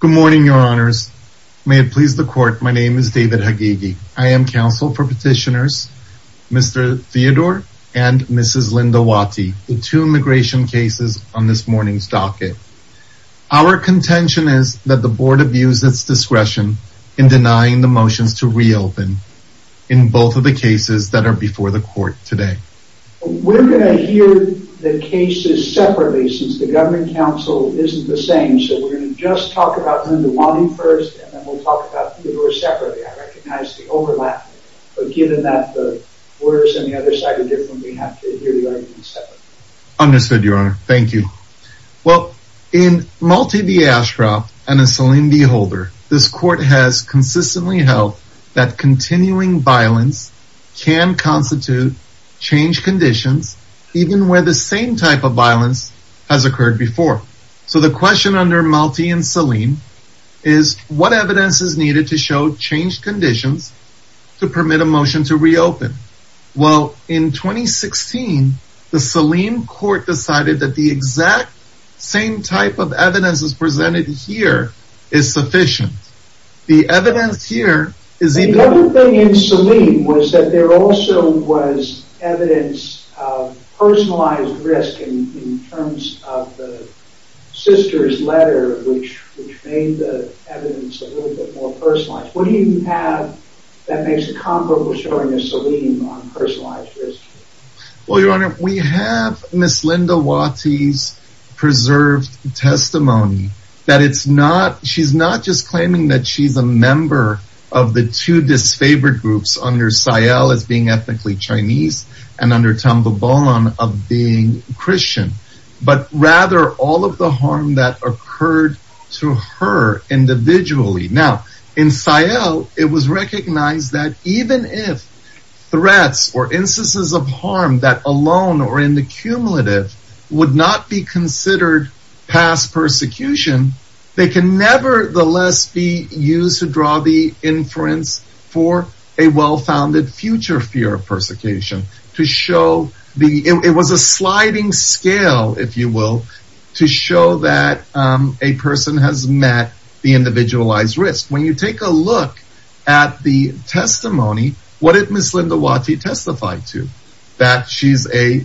Good morning, your honors. May it please the court, my name is David Hagigi. I am counsel for petitioners Mr. Theodore and Mrs. Lindawati, the two immigration cases on this morning's docket. Our contention is that the board abused its discretion in denying the motions to reopen in both of the cases that are before the court today. We're going to hear the cases separately since the government counsel isn't the same, so we're going to just talk about Lindawati first and then we'll talk about Theodore separately. I recognize the overlap, but given that the orders on the other side are different, we have to hear the arguments separately. Understood, your honor. Thank you. Well, in Malti v. Ashcroft and in Salim v. Holder, this court has consistently held that continuing violence can constitute change conditions even where the same type of violence has occurred before. So the question under Malti and Salim is what evidence is needed to show change conditions to permit a motion to reopen? Well, in 2016, the Salim court decided that the exact same type of evidence is presented here is sufficient. Another thing in Salim was that there also was evidence of personalized risk in terms of the sister's letter, which made the evidence a little bit more personalized. What do you have that makes a comparable showing of Salim on personalized risk? Well, your honor, we have Ms. Lindawati's preserved testimony that it's not she's not just claiming that she's a member of the two disfavored groups under Sael as being ethnically Chinese and under Tambulbon of being Christian, but rather all of the harm that occurred to her individually. Now, in Sael, it was recognized that even if threats or instances of harm that alone or in the cumulative would not be considered past persecution, they can nevertheless be used to draw the inference for a well-founded future fear of persecution to show the it was a sliding scale, if you will, to show that a person has met the individualized risk. When you take a look at the testimony, what it Ms. Lindawati testified to that she's a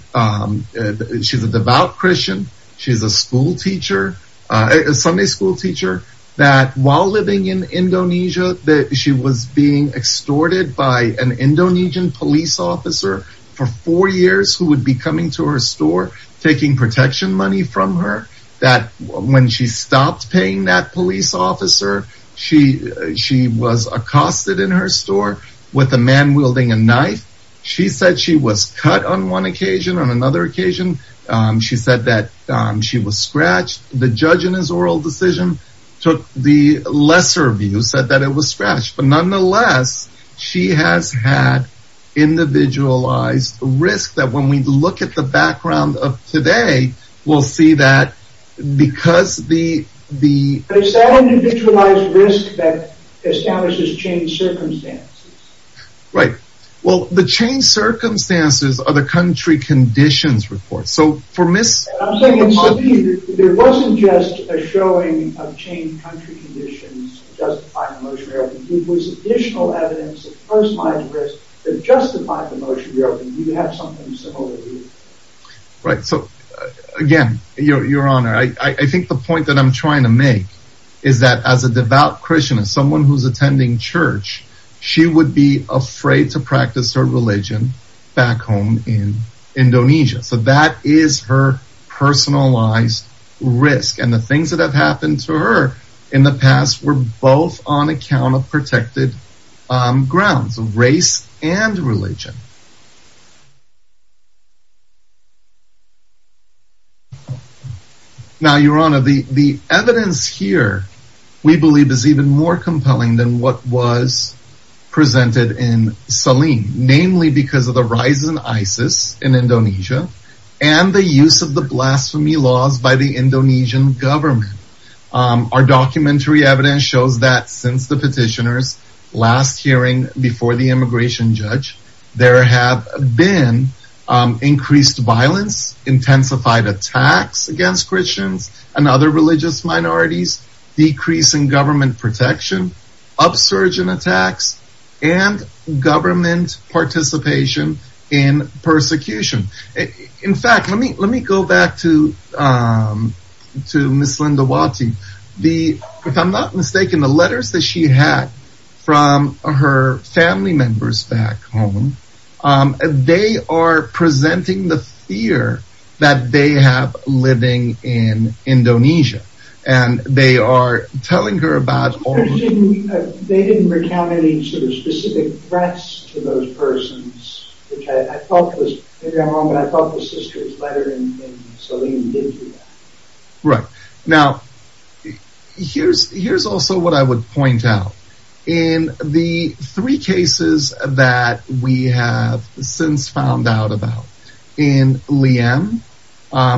she's a devout Christian. She's a school teacher, a Sunday school teacher that while living in Indonesia, that she was being extorted by an Indonesian police officer for four years who would be coming to her store, taking protection money from her that when she stopped paying that police officer, she she was accosted in her store with a man wielding a knife. She said she was cut on one occasion. On another occasion, she said that she was scratched. The judge in his oral decision took the lesser view, said that it was scratched. But nonetheless, she has had individualized risk that when we look at the background of today, we'll see that because the the individualized risk that establishes changed circumstances. Right. Well, the changed circumstances are the country conditions report. So for Ms. There wasn't just a showing of changed country conditions justifying the motion re-opening. It was additional evidence of personalized risk that justified the motion re-opening. You have something similar here. Right. So, again, Your Honor, I think the point that I'm trying to make is that as a devout Christian, as someone who's attending church, she would be afraid to practice her religion back home in Indonesia. So that is her personalized risk. And the things that have happened to her in the past were both on account of protected grounds of race and religion. Now, Your Honor, the evidence here, we believe, is even more compelling than what was presented in Selim, namely because of the rise in ISIS in Indonesia and the use of the blasphemy laws by the Indonesian government. Our documentary evidence shows that since the petitioners last hearing before the immigration judge, there have been increased violence, intensified attacks against Christians and other religious minorities, decrease in government protection, upsurge in attacks and government participation in persecution. In fact, let me go back to Ms. Linda Wati. If I'm not mistaken, the letters that she had from her family members back home, they are presenting the fear that they have living in Indonesia. And they are telling her about... They didn't recount any sort of specific threats to those persons, which I felt was, maybe I'm wrong, but I felt the sister's letter in Selim did do that. Right. Now, here's also what I would point out. In the three cases that we have since found out about in Liem,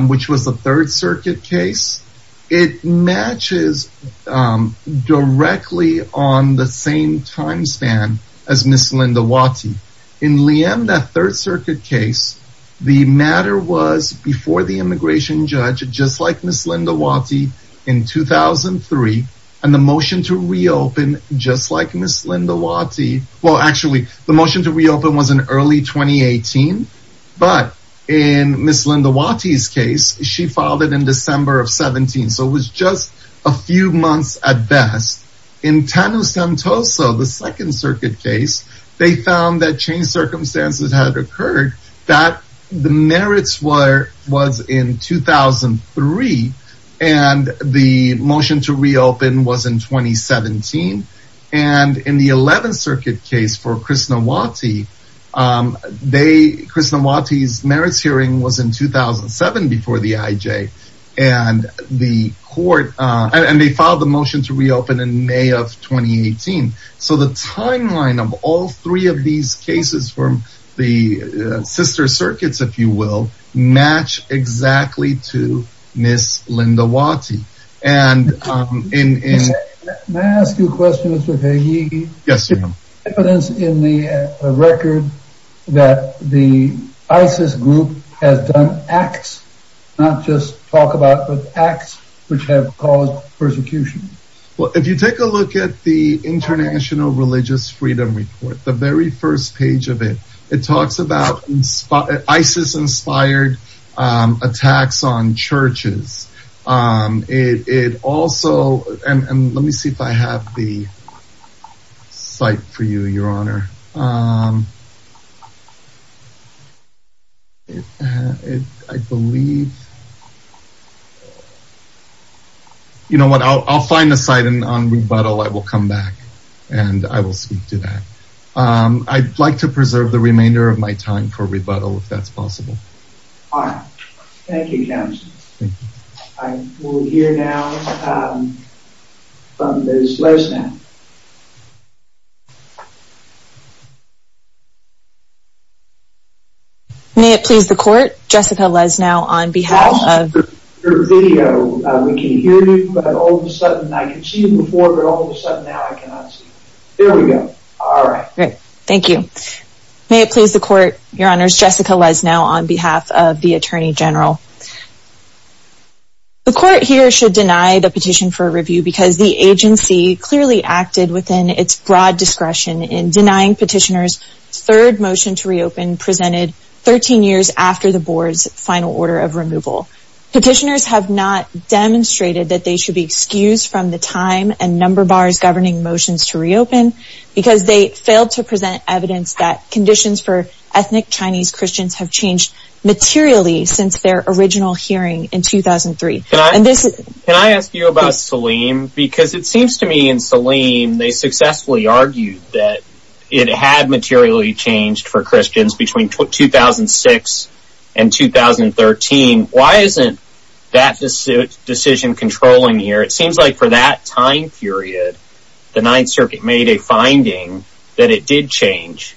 which was the Third Circuit case, it matches directly on the same time span as Ms. Linda Wati. In Liem, that Third Circuit case, the matter was before the immigration judge, just like Ms. Linda Wati in 2003. And the motion to reopen, just like Ms. Linda Wati. Well, actually, the motion to reopen was in early 2018. But in Ms. Linda Wati's case, she filed it in December of 17. So it was just a few months at best. In Tanu Santoso, the Second Circuit case, they found that changed circumstances had occurred that the merits were was in 2003. And the motion to reopen was in 2017. And in the Eleventh Circuit case for Ms. Linda Wati, Ms. Linda Wati's merits hearing was in 2007 before the IJ. And they filed the motion to reopen in May of 2018. So the timeline of all three of these cases from the sister circuits, if you will, match exactly to Ms. Linda Wati. And in... May I ask you a question, Mr. Peggy? Yes, you may. There's evidence in the record that the ISIS group has done acts, not just talk about, but acts which have caused persecution. Well, if you take a look at the International Religious Freedom Report, the very first page of it, it talks about ISIS inspired attacks on churches. It also and let me see if I have the site for you, Your Honor. I believe. You know what? I'll find the site and on rebuttal, I will come back and I will speak to that. I'd like to preserve the remainder of my time for rebuttal if that's possible. All right. Thank you, Counsel. I will hear now from Ms. Lesnau. May it please the Court, Jessica Lesnau on behalf of... Your video, we can hear you, but all of a sudden I could see you before, but all of a sudden now I cannot see you. There we go. All right. Thank you. May it please the Court, Your Honors, Jessica Lesnau on behalf of the Attorney General. The Court here should deny the petition for review because the agency clearly acted within its broad discretion in denying petitioners third motion to reopen presented 13 years after the board's final order of removal. Petitioners have not demonstrated that they should be excused from the time and number bars governing motions to reopen because they failed to present evidence that conditions for ethnic Chinese Christians have changed materially since their original hearing in 2003. Can I ask you about Saleem? Because it seems to me in Saleem they successfully argued that it had materially changed for Christians between 2006 and 2013. Why isn't that decision controlling here? It seems like for that time period the Ninth Circuit made a finding that it did change.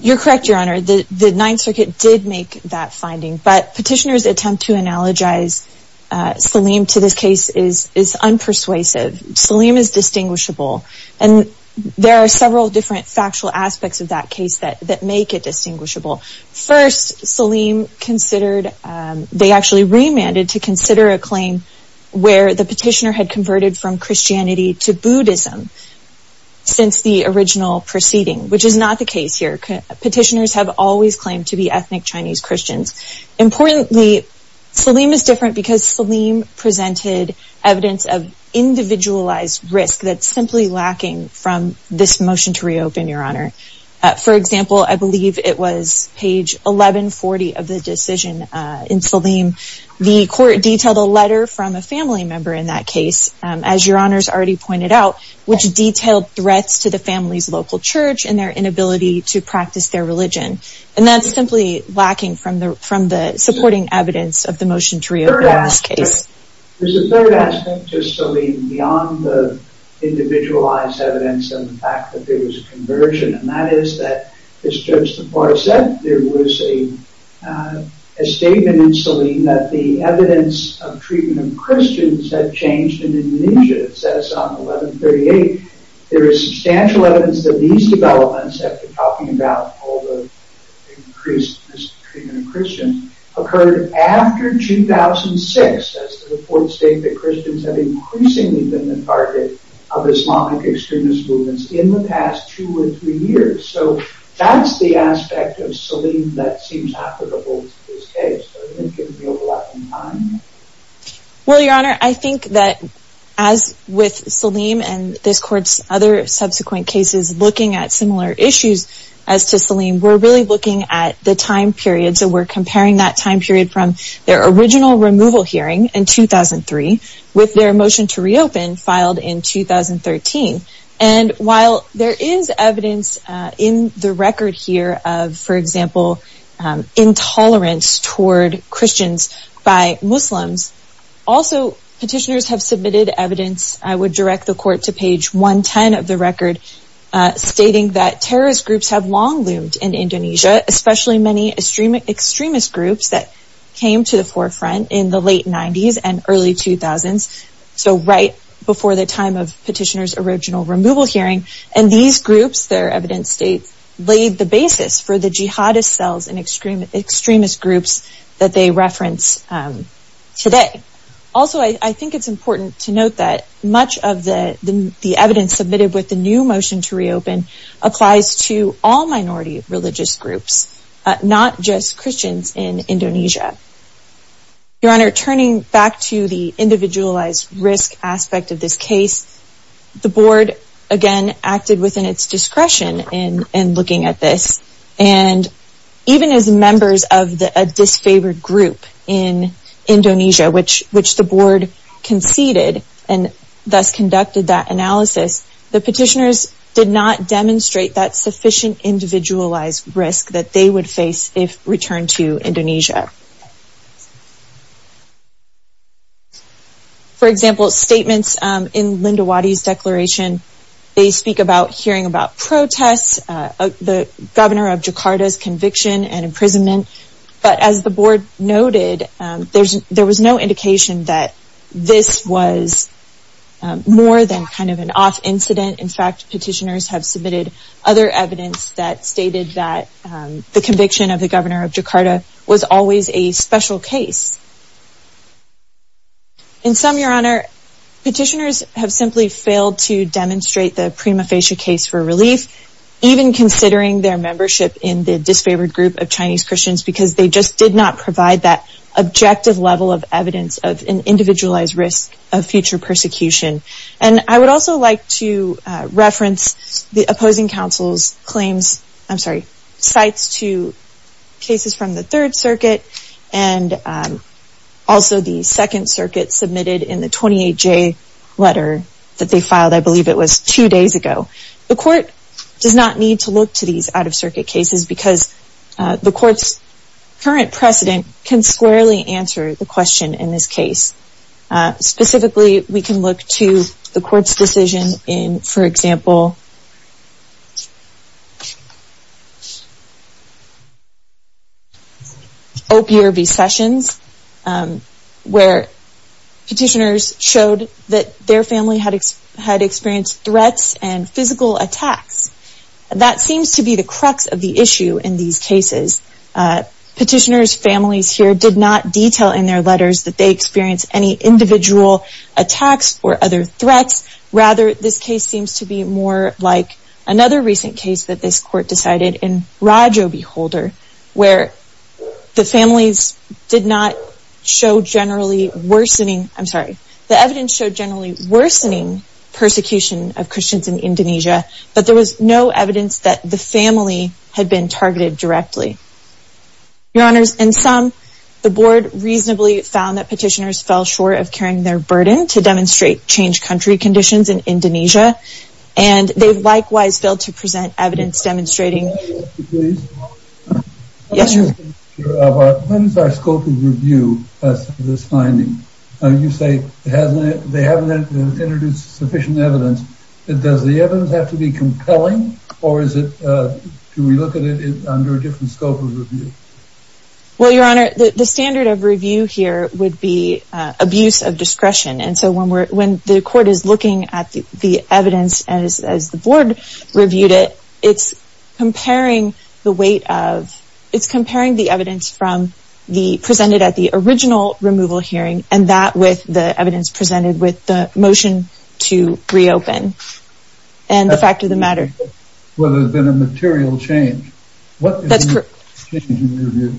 You're correct, Your Honor. The Ninth Circuit did make that finding, but petitioners' attempt to analogize Saleem to this case is unpersuasive. Saleem is distinguishable, and there are several different factual aspects of that case that make it distinguishable. First, they actually remanded to consider a claim where the petitioner had converted from Christianity to Buddhism since the original proceeding, which is not the case here. Petitioners have always claimed to be ethnic Chinese Christians. Importantly, Saleem is different because Saleem presented evidence of individualized risk that's simply lacking from this motion to reopen, Your Honor. For example, I believe it was page 1140 of the decision in Saleem. The court detailed a letter from a family member in that case, as Your Honor's already pointed out, which detailed threats to the family's local church and their inability to practice their religion. And that's simply lacking from the supporting evidence of the motion to reopen in this case. There's a third aspect to Saleem beyond the individualized evidence and the fact that there was a conversion, and that is that, as Judge DePauw said, there was a statement in Saleem that the evidence of treatment of Christians had changed in Indonesia. It says on 1138, there is substantial evidence that these developments, after talking about all the increased mistreatment of Christians, occurred after 2006. The report states that Christians have increasingly been the target of Islamic extremist movements in the past two or three years. So that's the aspect of Saleem that seems applicable to this case. Well, Your Honor, I think that as with Saleem and this court's other subsequent cases looking at similar issues as to Saleem, we're really looking at the time period. So we're comparing that time period from their original removal hearing in 2003 with their motion to reopen filed in 2013. And while there is evidence in the record here of, for example, intolerance toward Christians by Muslims, also petitioners have submitted evidence, I would direct the court to page 110 of the record, stating that terrorist groups have long loomed in Indonesia, especially many extremist groups that came to the forefront in the late 90s and early 2000s. So right before the time of petitioners' original removal hearing. And these groups, their evidence states, laid the basis for the jihadist cells and extremist groups that they reference today. Also, I think it's important to note that much of the evidence submitted with the new motion to reopen applies to all minority religious groups, not just Christians in Indonesia. Your Honor, turning back to the individualized risk aspect of this case, the board, again, acted within its discretion in looking at this. And even as members of a disfavored group in Indonesia, which the board conceded and thus conducted that analysis, the petitioners did not demonstrate that sufficient individualized risk that they would face if returned to Indonesia. For example, statements in Linda Waddy's declaration, they speak about hearing about protests, the governor of Jakarta's conviction and imprisonment. But as the board noted, there was no indication that this was more than kind of an off incident. In fact, petitioners have submitted other evidence that stated that the conviction of the governor of Jakarta was always a special case. In some, Your Honor, petitioners have simply failed to demonstrate the prima facie case for relief, even considering their membership in the disfavored group of Chinese Christians because they just did not provide that objective level of evidence of an individualized risk of future persecution. And I would also like to reference the opposing counsel's claims, I'm sorry, sites to cases from the Third Circuit and also the Second Circuit submitted in the 28J letter that they filed, I believe it was two days ago. The court does not need to look to these out-of-circuit cases because the court's current precedent can squarely answer the question in this case. Specifically, we can look to the court's decision in, for example, Opioid recessions, where petitioners showed that their family had experienced threats and physical attacks. That seems to be the crux of the issue in these cases. Petitioners' families here did not detail in their letters that they experienced any individual attacks or other threats. Rather, this case seems to be more like another recent case that this court decided in Rajobeholder, where the families did not show generally worsening, I'm sorry, the evidence showed generally worsening persecution of Christians in Indonesia, but there was no evidence that the family had been targeted directly. Your Honors, in some, the board reasonably found that petitioners fell short of carrying their burden to demonstrate changed country conditions in Indonesia, and they likewise failed to present evidence demonstrating... Well, Your Honor, the standard of review here would be abuse of discretion, and so when the court is looking at the evidence as the board reviewed it, it's comparing the weight of, it's comparing the evidence from the, presented at the original removal hearing, and that with the evidence presented with the motion to reopen, and the fact of the matter. Whether it's been a material change. That's correct. What is the change in your view? board, which were subsequently denied on petition for review to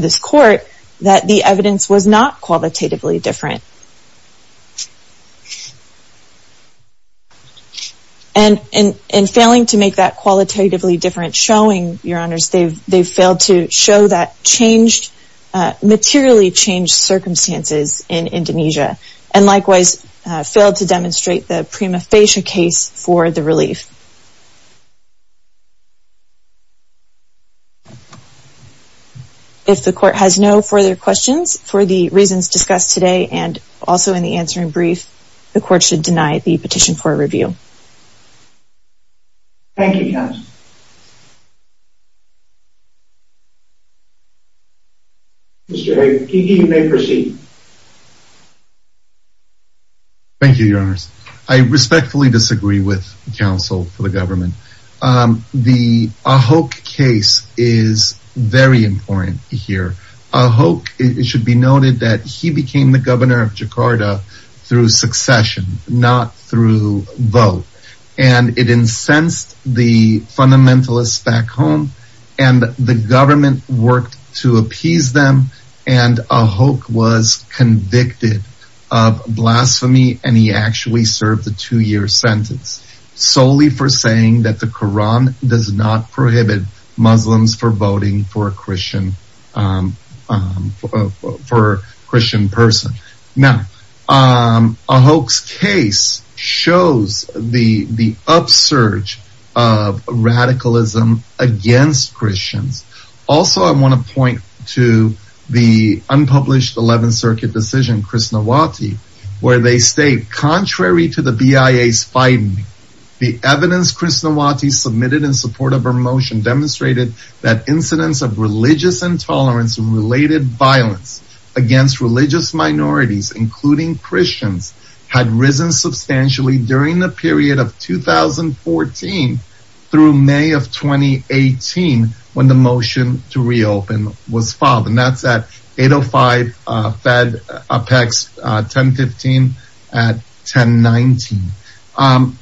this court, that the evidence was not qualitatively different. And in failing to make that qualitatively different showing, Your Honors, they've failed to show that changed, materially changed circumstances in Indonesia, and likewise failed to demonstrate the prima facie case for the relief. If the court has no further questions for the reasons discussed today, and also in the answering brief, the court should deny the petition for review. Thank you, Your Honors. Mr. Aikiki, you may proceed. Thank you, Your Honors. I respectfully disagree with counsel for the government. The Ahok case is very important here. Ahok, it should be noted that he became the governor of Jakarta through succession, not through vote. And it incensed the fundamentalists back home, and the government worked to appease them, and Ahok was convicted of blasphemy, and he actually served a two-year sentence. Solely for saying that the Quran does not prohibit Muslims for voting for a Christian person. Now, Ahok's case shows the upsurge of radicalism against Christians. Also, I want to point to the unpublished 11th Circuit decision, Krishnawati, where they state, contrary to the BIA's fighting, the evidence Krishnawati submitted in support of her motion demonstrated that incidents of religious intolerance and related violence against religious minorities, including Christians, had risen substantially during the period of 2014 through May of 2018, when the motion to reopen was filed, and that's at 805 Fed Apex 1015 at 1019.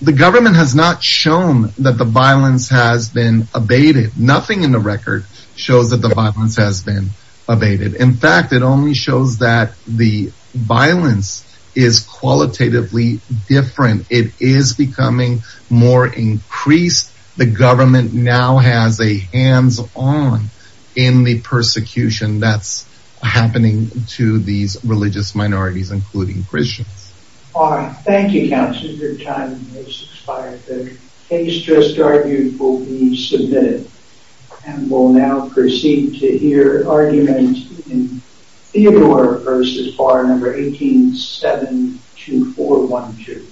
The government has not shown that the violence has been abated. Nothing in the record shows that the violence has been abated. In fact, it only shows that the violence is qualitatively different. It is becoming more increased. The government now has a hands-on in the persecution that's happening to these religious minorities, including Christians. Thank you, Counselor. Your time has expired. The case just argued will be submitted, and we'll now proceed to hear arguments in Theodore versus Bar No. 18-72412.